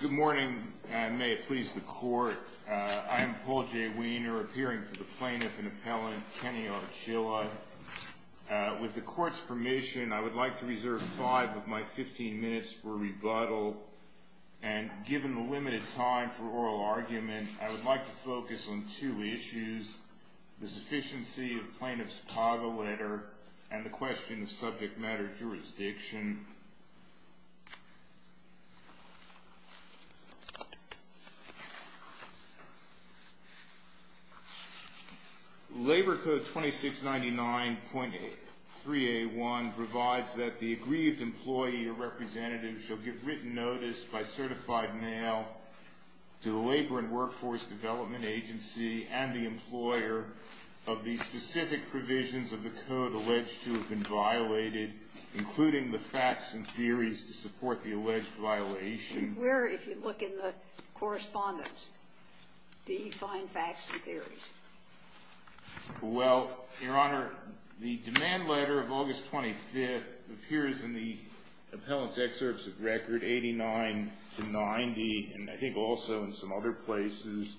Good morning, and may it please the Court. I am Paul J. Wiener, appearing for the Plaintiff and Appellant Kenny Archila. With the Court's permission, I would like to reserve five of my fifteen minutes for rebuttal, and given the limited time for oral argument, I would like to focus on two issues, the sufficiency of the Plaintiff's Chicago letter and the question of subject matter jurisdiction. Labor Code 2699.3A1 provides that the aggrieved employee or representative shall give written notice by certified mail to the Labor and Workforce Development Agency and the employer of the specific provisions of the code alleged to have been violated, including the facts and theories to support the alleged violation. Where, if you look in the correspondence, do you find facts and theories? Well, Your Honor, the demand letter of August 25th appears in the Appellant's Excerpts of Record 89-90 and I think also in some other places.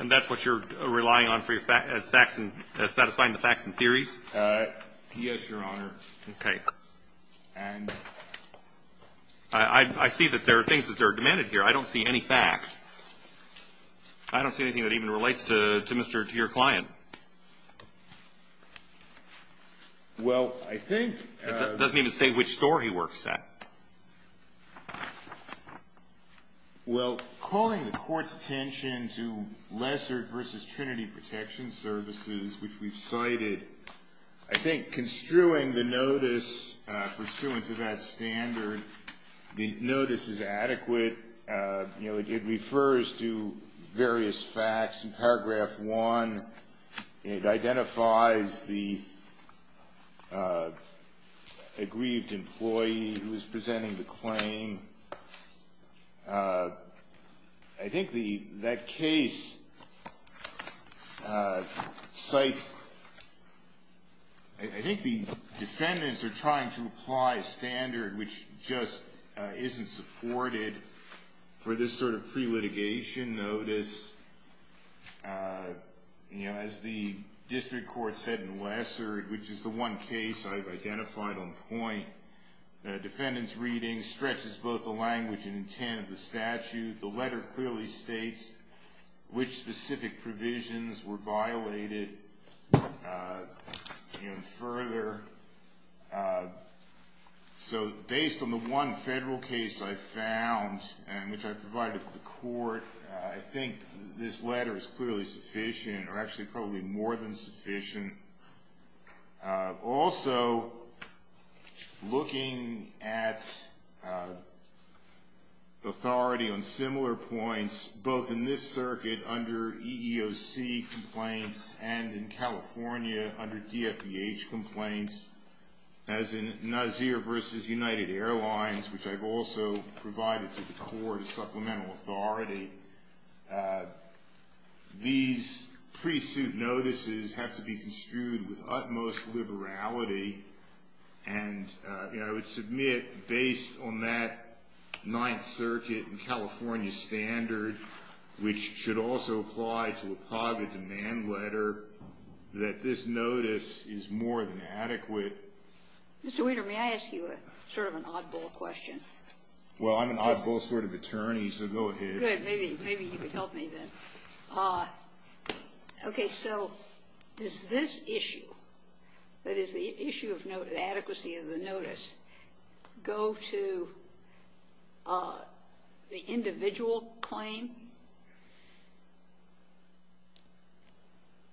And that's what you're relying on for your facts, satisfying the facts and theories? Yes, Your Honor. Okay. And? I see that there are things that are demanded here. I don't see any facts. I don't see anything that even relates to Mr. or to your client. Well, I think. It doesn't even state which store he works at. Well, calling the Court's attention to Lesser v. Trinity Protection Services, which we've cited, I think construing the notice pursuant to that standard, the notice is adequate. You know, it refers to various facts. In Paragraph 1, it identifies the aggrieved employee who is presenting the claim. I think that case cites the defendants are trying to apply a standard which just isn't supported for this sort of pre-litigation notice. As the district court said in Lessard, which is the one case I've identified on point, the defendant's reading stretches both the language and intent of the statute. The letter clearly states which specific provisions were violated. Further, so based on the one federal case I found, which I provided to the court, I think this letter is clearly sufficient, or actually probably more than sufficient. Also, looking at authority on similar points, both in this circuit under EEOC complaints and in California under DFVH complaints, as in Nazir v. United Airlines, which I've also provided to the court as supplemental authority, these pre-suit notices have to be construed with utmost liberality. And, you know, I would submit, based on that Ninth Circuit and California standard, which should also apply to a private demand letter, that this notice is more than adequate. Mr. Weiner, may I ask you a sort of an oddball question? Well, I'm an oddball sort of attorney, so go ahead. Okay, good. Maybe you could help me then. Okay, so does this issue, that is, the issue of adequacy of the notice, go to the individual claim?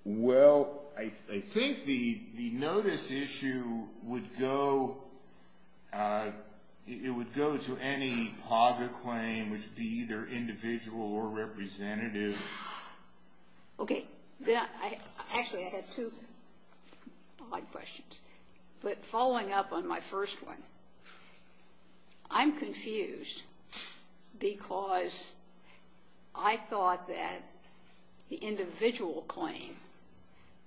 Well, I think the notice issue would go to any PAGA claim, which would be either individual or representative. Okay. Actually, I have two odd questions. But following up on my first one, I'm confused because I thought that the individual claim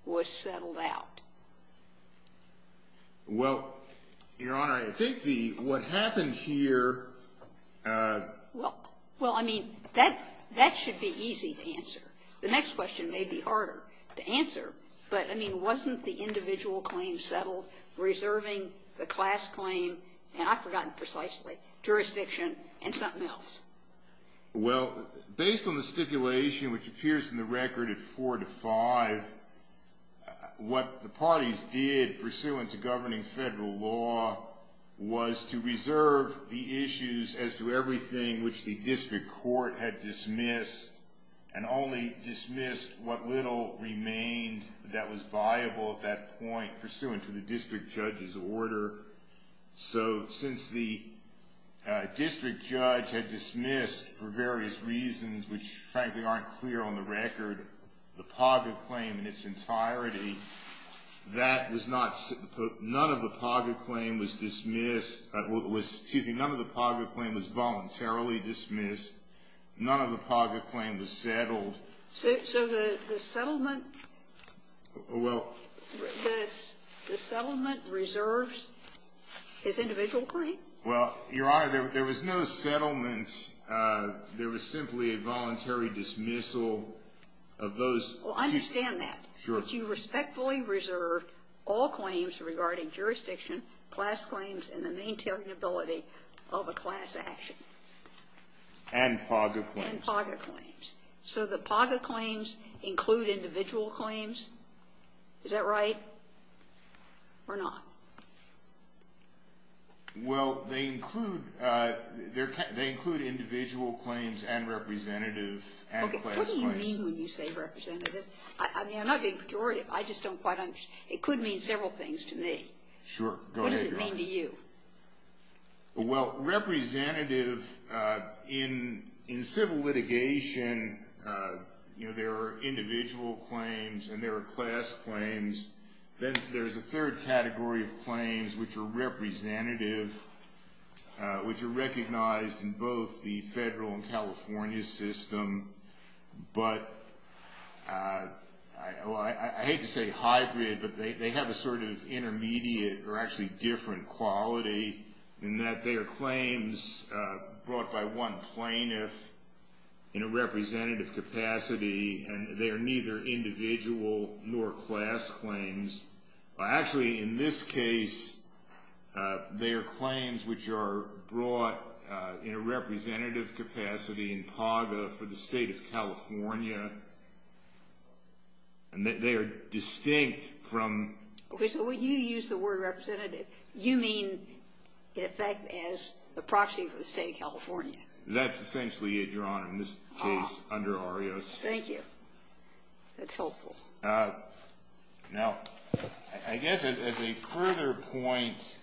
was settled out. Well, Your Honor, I think what happened here ---- Well, I mean, that should be easy to answer. The next question may be harder to answer. But, I mean, wasn't the individual claim settled, reserving the class claim, and I've forgotten precisely, jurisdiction, and something else? Well, based on the stipulation, which appears in the record at 4 to 5, what the parties did pursuant to governing federal law was to reserve the issues as to everything which the district court had dismissed and only dismissed what little remained that was viable at that point pursuant to the district judge's order. So since the district judge had dismissed, for various reasons which, frankly, aren't clear on the record, the PAGA claim in its entirety, that was not ---- none of the PAGA claim was dismissed. Excuse me. None of the PAGA claim was voluntarily dismissed. None of the PAGA claim was settled. So the settlement ---- Well ---- The settlement reserves its individual claim? Well, Your Honor, there was no settlement. There was simply a voluntary dismissal of those ---- Well, I understand that. Sure. But you respectfully reserved all claims regarding jurisdiction, class claims, and the maintainability of a class action. And PAGA claims. And PAGA claims. So the PAGA claims include individual claims? Is that right or not? Well, they include individual claims and representative and class claims. Okay, what do you mean when you say representative? I mean, I'm not being pejorative. I just don't quite understand. It could mean several things to me. Go ahead, Your Honor. What does it mean to you? Well, representative in civil litigation, you know, there are individual claims and there are class claims. Then there's a third category of claims, which are representative, which are recognized in both the federal and California system. But I hate to say hybrid, but they have a sort of intermediate or actually different quality in that they are claims brought by one plaintiff in a representative capacity, and they are neither individual nor class claims. Actually, in this case, they are claims which are brought in a representative capacity in PAGA for the State of California, and they are distinct from. Okay, so when you use the word representative, you mean in effect as a proxy for the State of California. That's essentially it, Your Honor, in this case under ARIOS. Thank you. That's helpful. Now, I guess as a further point,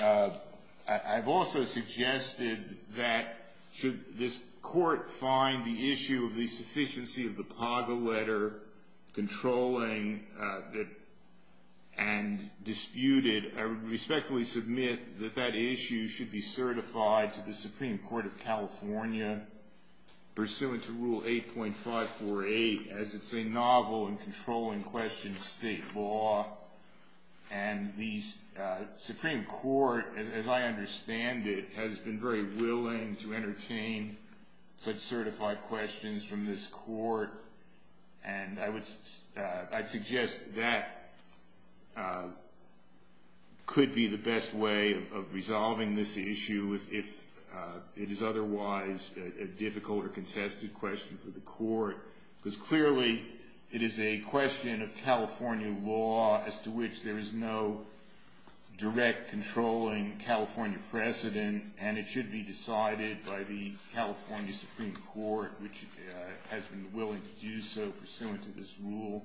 I've also suggested that should this court find the issue of the sufficiency of the PAGA letter controlling and disputed, I would respectfully submit that that issue should be certified to the Supreme Court of California pursuant to Rule 8.548, as it's a novel and controlling question of state law. And the Supreme Court, as I understand it, has been very willing to entertain such certified questions from this court. And I'd suggest that could be the best way of resolving this issue if it is otherwise a difficult or contested question for the court, because clearly it is a question of California law, as to which there is no direct controlling California precedent, and it should be decided by the California Supreme Court, which has been willing to do so pursuant to this rule.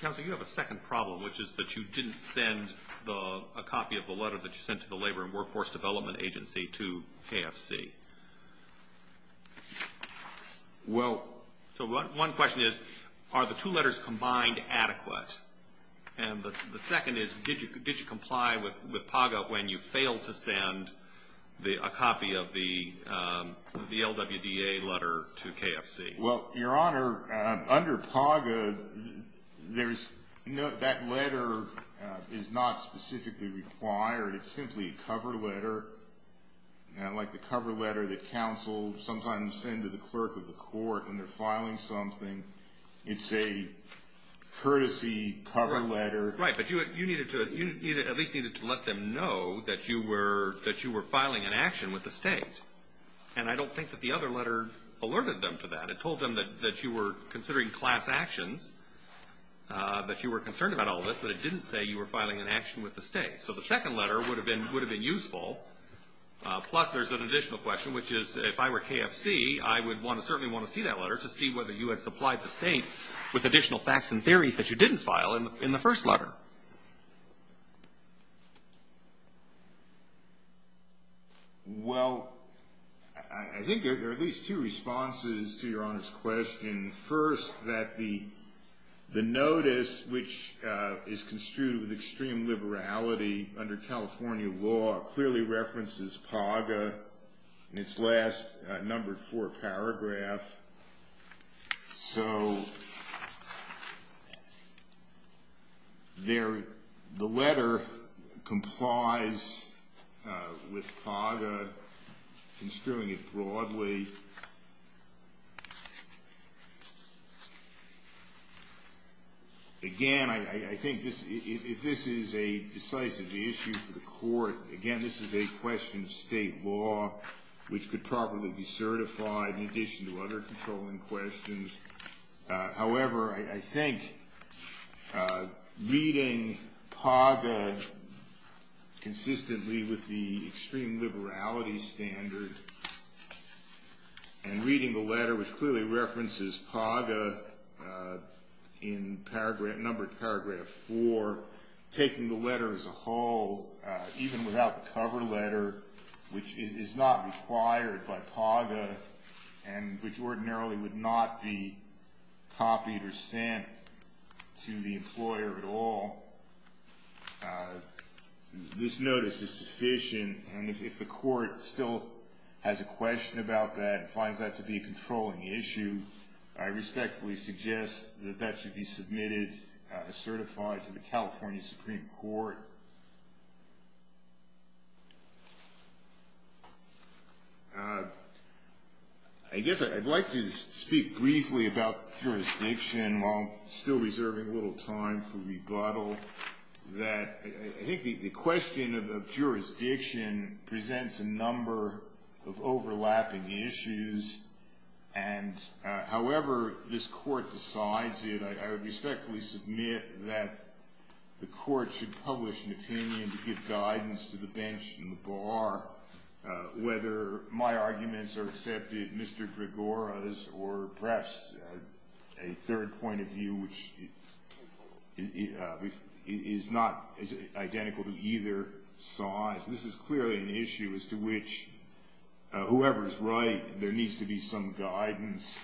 Counsel, you have a second problem, which is that you didn't send a copy of the letter that you sent to the Labor and Workforce Development Agency to KFC. So one question is, are the two letters combined adequate? And the second is, did you comply with PAGA when you failed to send a copy of the LWDA letter to KFC? Well, Your Honor, under PAGA, that letter is not specifically required. It's simply a cover letter, like the cover letter that counsels sometimes send to the clerk of the court when they're filing something. It's a courtesy cover letter. Right, but you at least needed to let them know that you were filing an action with the state. And I don't think that the other letter alerted them to that. It told them that you were considering class actions, that you were concerned about all of this, but it didn't say you were filing an action with the state. So the second letter would have been useful. Plus, there's an additional question, which is, if I were KFC, I would certainly want to see that letter to see whether you had supplied the state with additional facts and theories that you didn't file in the first letter. Well, I think there are at least two responses to Your Honor's question. First, that the notice, which is construed with extreme liberality under California law, clearly references PAGA in its last number four paragraph. So the letter complies with PAGA, construing it broadly. Again, I think if this is a decisive issue for the court, again, this is a question of state law, which could probably be certified in addition to other controlling questions. However, I think reading PAGA consistently with the extreme liberality standard and reading the letter, which clearly references PAGA in number paragraph four, taking the letter as a whole, even without the cover letter, which is not required by PAGA and which ordinarily would not be copied or sent to the employer at all, this notice is sufficient. And if the court still has a question about that and finds that to be a controlling issue, I respectfully suggest that that should be submitted as certified to the California Supreme Court. I guess I'd like to speak briefly about jurisdiction while still reserving a little time for rebuttal, that I think the question of jurisdiction presents a number of overlapping issues and however this court decides it, I would respectfully submit that the court should publish an opinion to give guidance to the bench and the bar, whether my arguments are accepted, Mr. Gregora's, or perhaps a third point of view, which is not identical to either side. This is clearly an issue as to which whoever's right, there needs to be some guidance.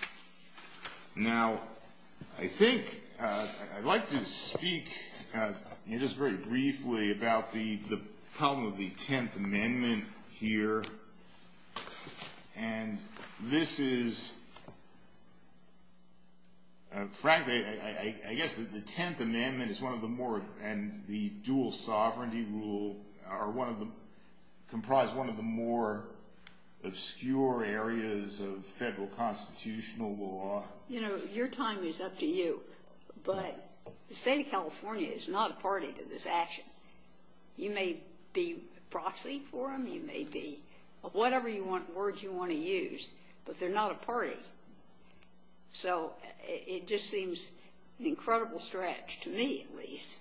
Now, I think I'd like to speak just very briefly about the problem of the Tenth Amendment here. And this is, frankly, I guess the Tenth Amendment is one of the more, and the dual sovereignty rule are one of the, comprise one of the more obscure areas of federal constitutional law. You know, your time is up to you, but the state of California is not a party to this action. You may be a proxy for them, you may be whatever words you want to use, but they're not a party. So it just seems an incredible stretch to me, at least,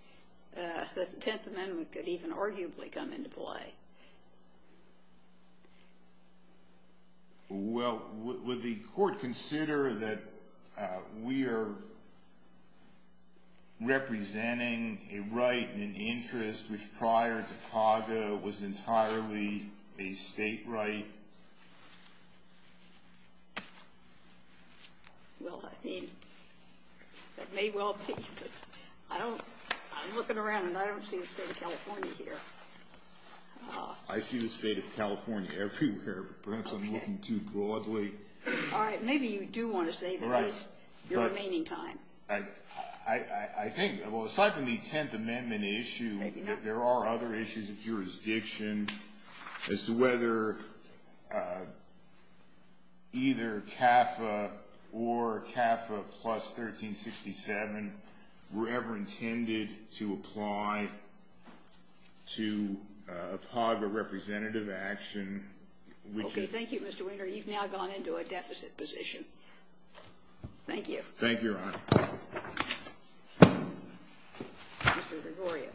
that the Tenth Amendment could even arguably come into play. Well, would the court consider that we are representing a right and an interest which prior to CAGA was entirely a state right? Well, I think that may well be, but I don't, I'm looking around and I don't see a state of California here. I see the state of California everywhere, but perhaps I'm looking too broadly. All right, maybe you do want to save your remaining time. I think, well, aside from the Tenth Amendment issue, there are other issues of jurisdiction as to whether either CAFA or CAFA plus 1367 were ever intended to apply to a PAGA representative action. Okay, thank you, Mr. Wiener. You've now gone into a deficit position. Thank you. Thank you, Your Honor. Mr. Gregoria.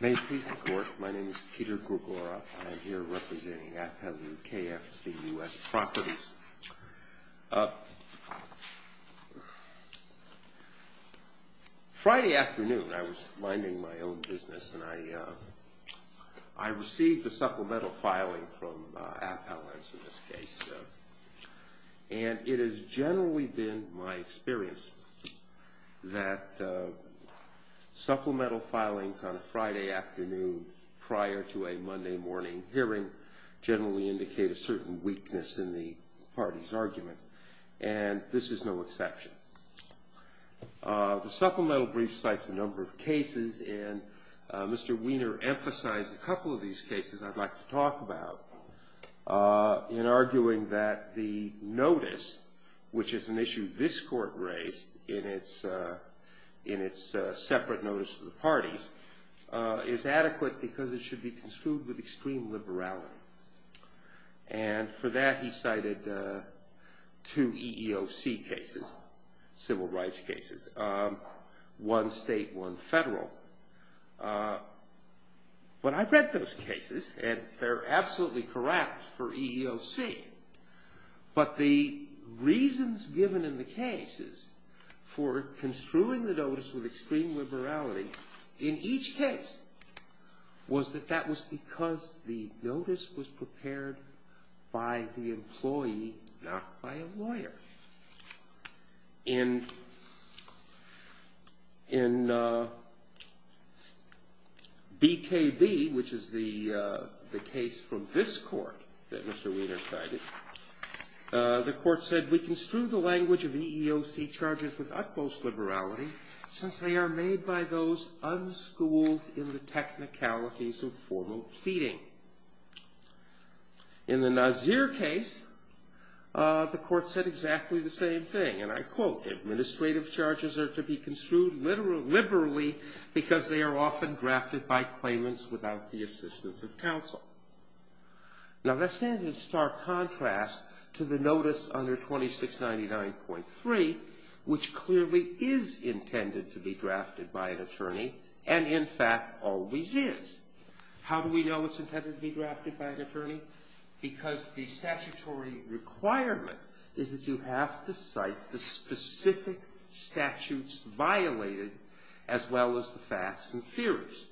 May it please the Court, my name is Peter Gregoria and I'm here representing FWKFC U.S. Properties. Friday afternoon I was minding my own business and I received a supplemental filing from Appellants in this case. And it has generally been my experience that supplemental filings on a Friday afternoon prior to a Monday morning hearing generally indicate a certain weakness in the party's argument. And this is no exception. The supplemental brief cites a number of cases and Mr. Wiener emphasized a couple of these cases I'd like to talk about in arguing that the notice, which is an issue this Court raised in its separate notice to the parties, is adequate because it should be construed with extreme liberality. And for that he cited two EEOC cases, civil rights cases, one state, one federal. But I've read those cases and they're absolutely correct for EEOC. But the reasons given in the cases for construing the notice with extreme liberality in each case was that that was because the notice was prepared by the employee, not by a lawyer. In BKB, which is the case from this Court that Mr. Wiener cited, the Court said, we construed the language of EEOC charges with utmost liberality since they are made by those unschooled in the technicalities of formal pleading. In the Nasir case, the Court said exactly the same thing and I quote, administrative charges are to be construed liberally because they are often drafted by claimants without the assistance of counsel. Now that stands in stark contrast to the notice under 2699.3, which clearly is intended to be drafted by an attorney and in fact always is. How do we know it's intended to be drafted by an attorney? Because the statutory requirement is that you have to cite the specific statutes violated as well as the facts and theories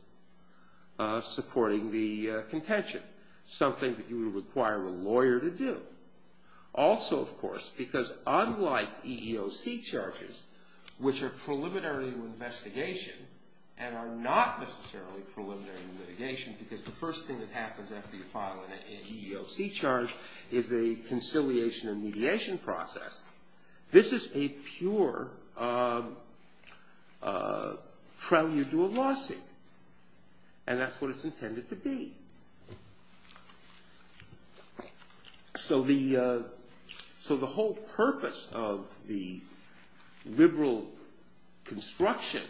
supporting the contention, something that you would require a lawyer to do. Also, of course, because unlike EEOC charges, which are preliminary to investigation and are not necessarily preliminary to litigation, because the first thing that happens after you file an EEOC charge is a conciliation and mediation process, this is a pure prelude to a lawsuit and that's what it's intended to be. So the whole purpose of the liberal construction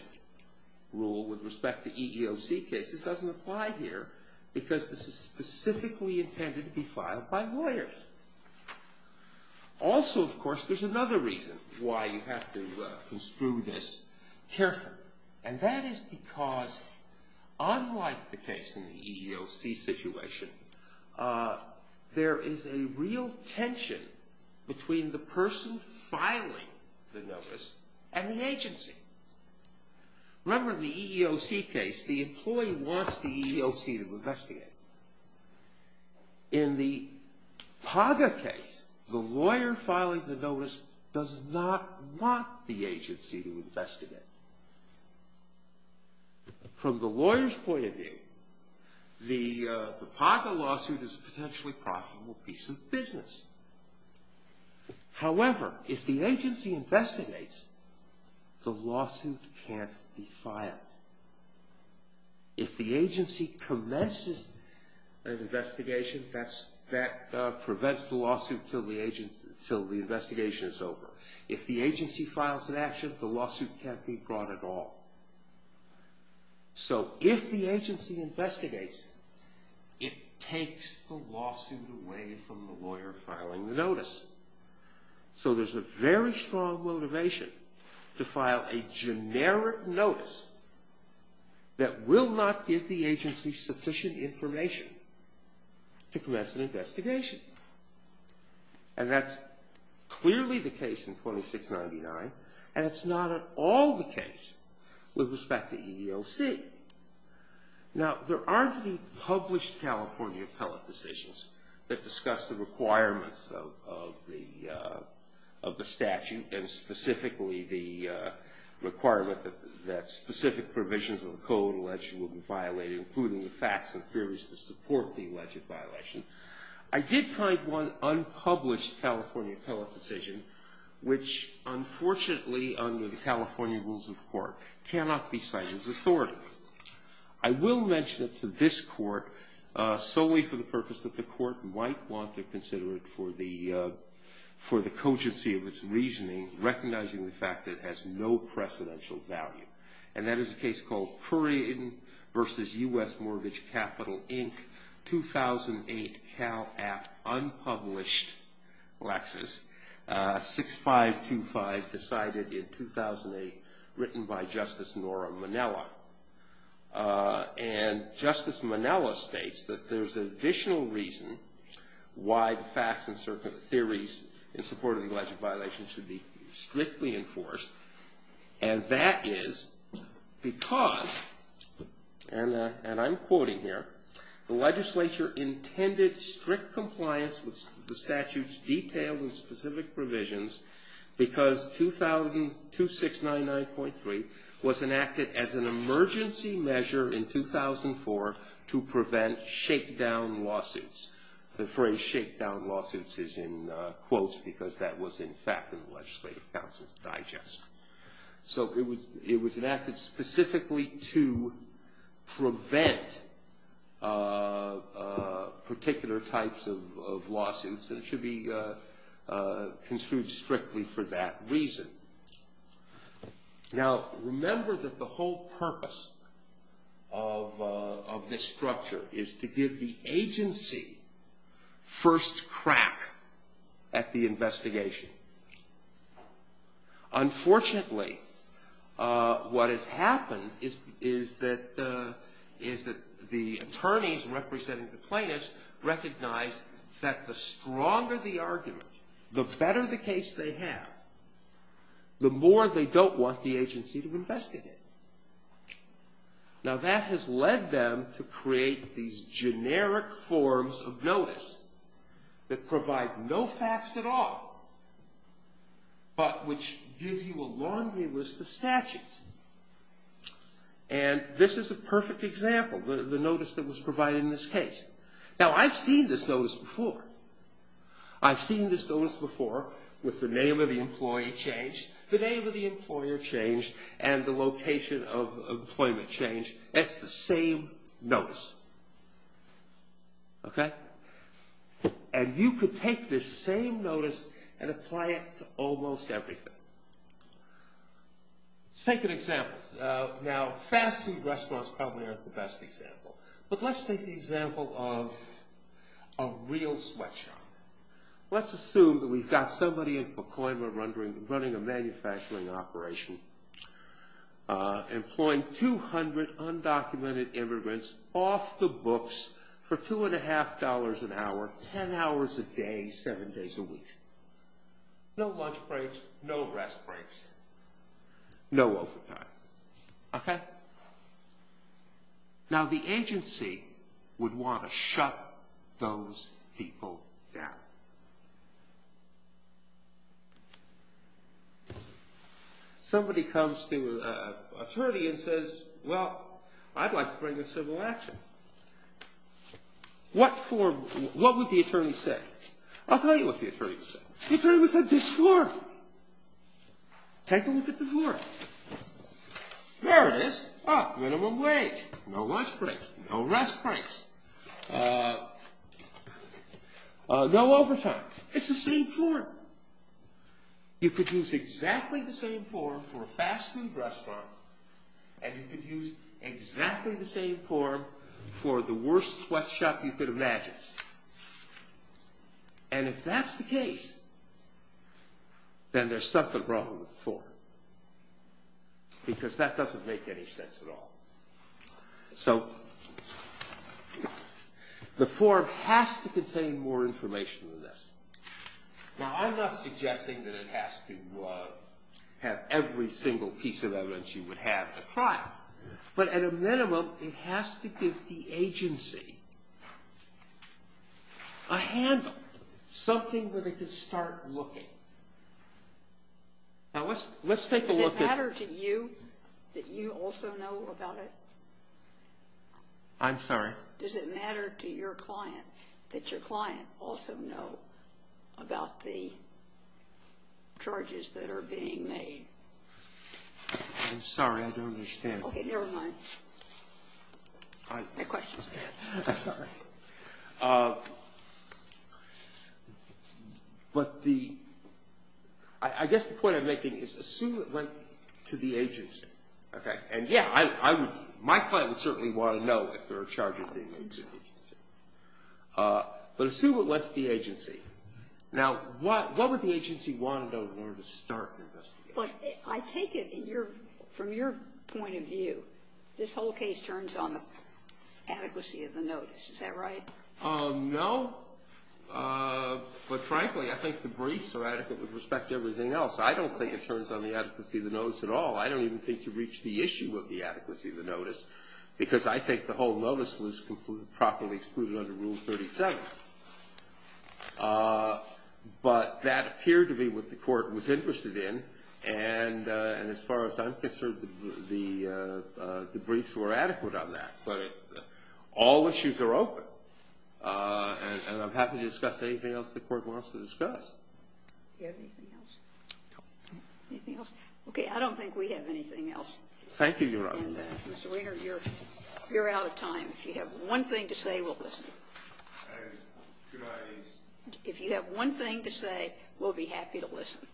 rule with respect to EEOC cases doesn't apply here because this is specifically intended to be filed by lawyers. Also, of course, there's another reason why you have to construe this carefully and that is because unlike the case in the EEOC situation, there is a real tension between the person filing the notice and the agency. Remember the EEOC case, the employee wants the EEOC to investigate. In the PAGA case, the lawyer filing the notice does not want the agency to investigate. From the lawyer's point of view, the PAGA lawsuit is a potentially profitable piece of business. However, if the agency investigates, the lawsuit can't be filed. If the agency commences an investigation, that prevents the lawsuit until the investigation is over. If the agency files an action, the lawsuit can't be brought at all. So if the agency investigates, it takes the lawsuit away from the lawyer filing the notice. So there's a very strong motivation to file a generic notice that will not give the agency sufficient information to commence an investigation. And that's clearly the case in 2699 and it's not at all the case with respect to EEOC. Now, there aren't any published California appellate decisions that discuss the requirements of the statute and specifically the requirement that specific provisions of the code allegedly will be violated, including the facts and theories that support the alleged violation. I did find one unpublished California appellate decision, which unfortunately, under the California rules of court, cannot be cited as authoritative. I will mention it to this court solely for the purpose that the court might want to consider it for the cogency of its reasoning, recognizing the fact that it has no precedential value. And that is a case called Prairie versus U.S. Mortgage Capital, Inc., 2008 Cal App unpublished lexis, 6525 decided in 2008, written by Justice Nora Minella. And Justice Minella states that there's an additional reason why the facts and theories in support of the alleged violation should be strictly enforced. And that is because, and I'm quoting here, the legislature intended strict compliance with the statute's detailed and specific provisions because 2699.3 was enacted as an emergency measure in 2004 to prevent shakedown lawsuits. The phrase shakedown lawsuits is in quotes because that was in fact in the legislative council's digest. So it was enacted specifically to prevent particular types of lawsuits, and it should be construed strictly for that reason. Now, remember that the whole purpose of this structure is to give the agency first crack at the investigation. Unfortunately, what has happened is that the attorneys representing the plaintiffs recognize that the stronger the argument, the better the case they have, the more they don't want the agency to investigate. Now, that has led them to create these generic forms of notice that provide no facts at all, but which give you a laundry list of statutes. And this is a perfect example, the notice that was provided in this case. Now, I've seen this notice before. I've seen this notice before with the name of the employee changed, the name of the employer changed, and the location of employment changed. It's the same notice. Okay? And you could take this same notice and apply it to almost everything. Let's take an example. Now, fast food restaurants probably aren't the best example, but let's take the example of a real sweatshop. Let's assume that we've got somebody in Pacoima running a manufacturing operation, employing 200 undocumented immigrants off the books for $2.50 an hour, 10 hours a day, 7 days a week. No lunch breaks, no rest breaks, no overtime. Okay? Now, the agency would want to shut those people down. Somebody comes to an attorney and says, well, I'd like to bring a civil action. What would the attorney say? I'll tell you what the attorney would say. The attorney would say, this form. Take a look at the form. There it is. Minimum wage, no lunch breaks, no rest breaks, no overtime. It's the same form. You could use exactly the same form for a fast food restaurant, and you could use exactly the same form for the worst sweatshop you could imagine. And if that's the case, then there's something wrong with the form, because that doesn't make any sense at all. So the form has to contain more information than this. Now, I'm not suggesting that it has to have every single piece of evidence you would have to trial, but at a minimum, it has to give the agency a handle, something that it can start looking. Now, let's take a look at the ---- Does it matter to you that you also know about it? I'm sorry? Does it matter to your client that your client also know about the charges that are being made? I'm sorry. I don't understand. Okay, never mind. My question is bad. I'm sorry. But the ---- I guess the point I'm making is assume it went to the agency. Okay? And, yeah, my client would certainly want to know if there are charges being made to the agency. But assume it went to the agency. Now, what would the agency want to know in order to start an investigation? I take it, from your point of view, this whole case turns on the adequacy of the notice. Is that right? No. But, frankly, I think the briefs are adequate with respect to everything else. I don't think it turns on the adequacy of the notice at all. I don't even think you've reached the issue of the adequacy of the notice, because I think the whole notice was properly excluded under Rule 37. But that appeared to be what the court was interested in. And as far as I'm concerned, the briefs were adequate on that. But all issues are open. And I'm happy to discuss anything else the court wants to discuss. Do you have anything else? No. Anything else? Okay, I don't think we have anything else. Thank you, Your Honor. And, Mr. Winger, you're out of time. If you have one thing to say, we'll listen. If you have one thing to say, we'll be happy to listen.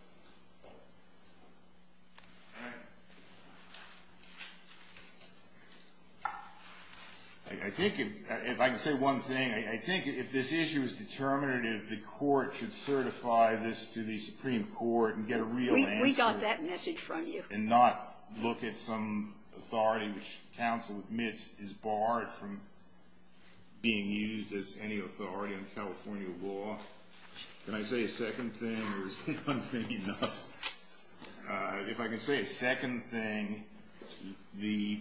All right. I think if I can say one thing, I think if this issue is determinative, the court should certify this to the Supreme Court and get a real answer. We got that message from you. And not look at some authority which counsel admits is barred from being used as any authority in California law. Can I say a second thing, or is one thing enough? If I can say a second thing, the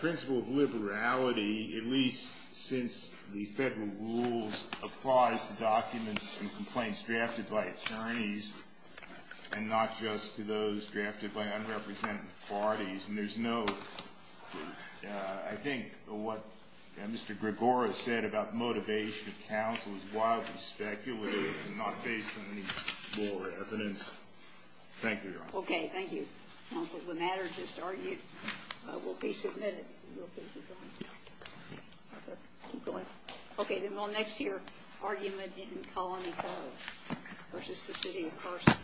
principle of liberality, at least since the federal rules, applies to documents and complaints drafted by attorneys and not just to those drafted by unrepresented parties. And there's no, I think what Mr. Gregora said about motivation of counsel is wildly speculative and not based on any more evidence. Thank you, Your Honor. Okay, thank you, counsel. The matter just argued will be submitted. Keep going. Okay, then we'll next hear argument in Colony Court versus the City of Carson.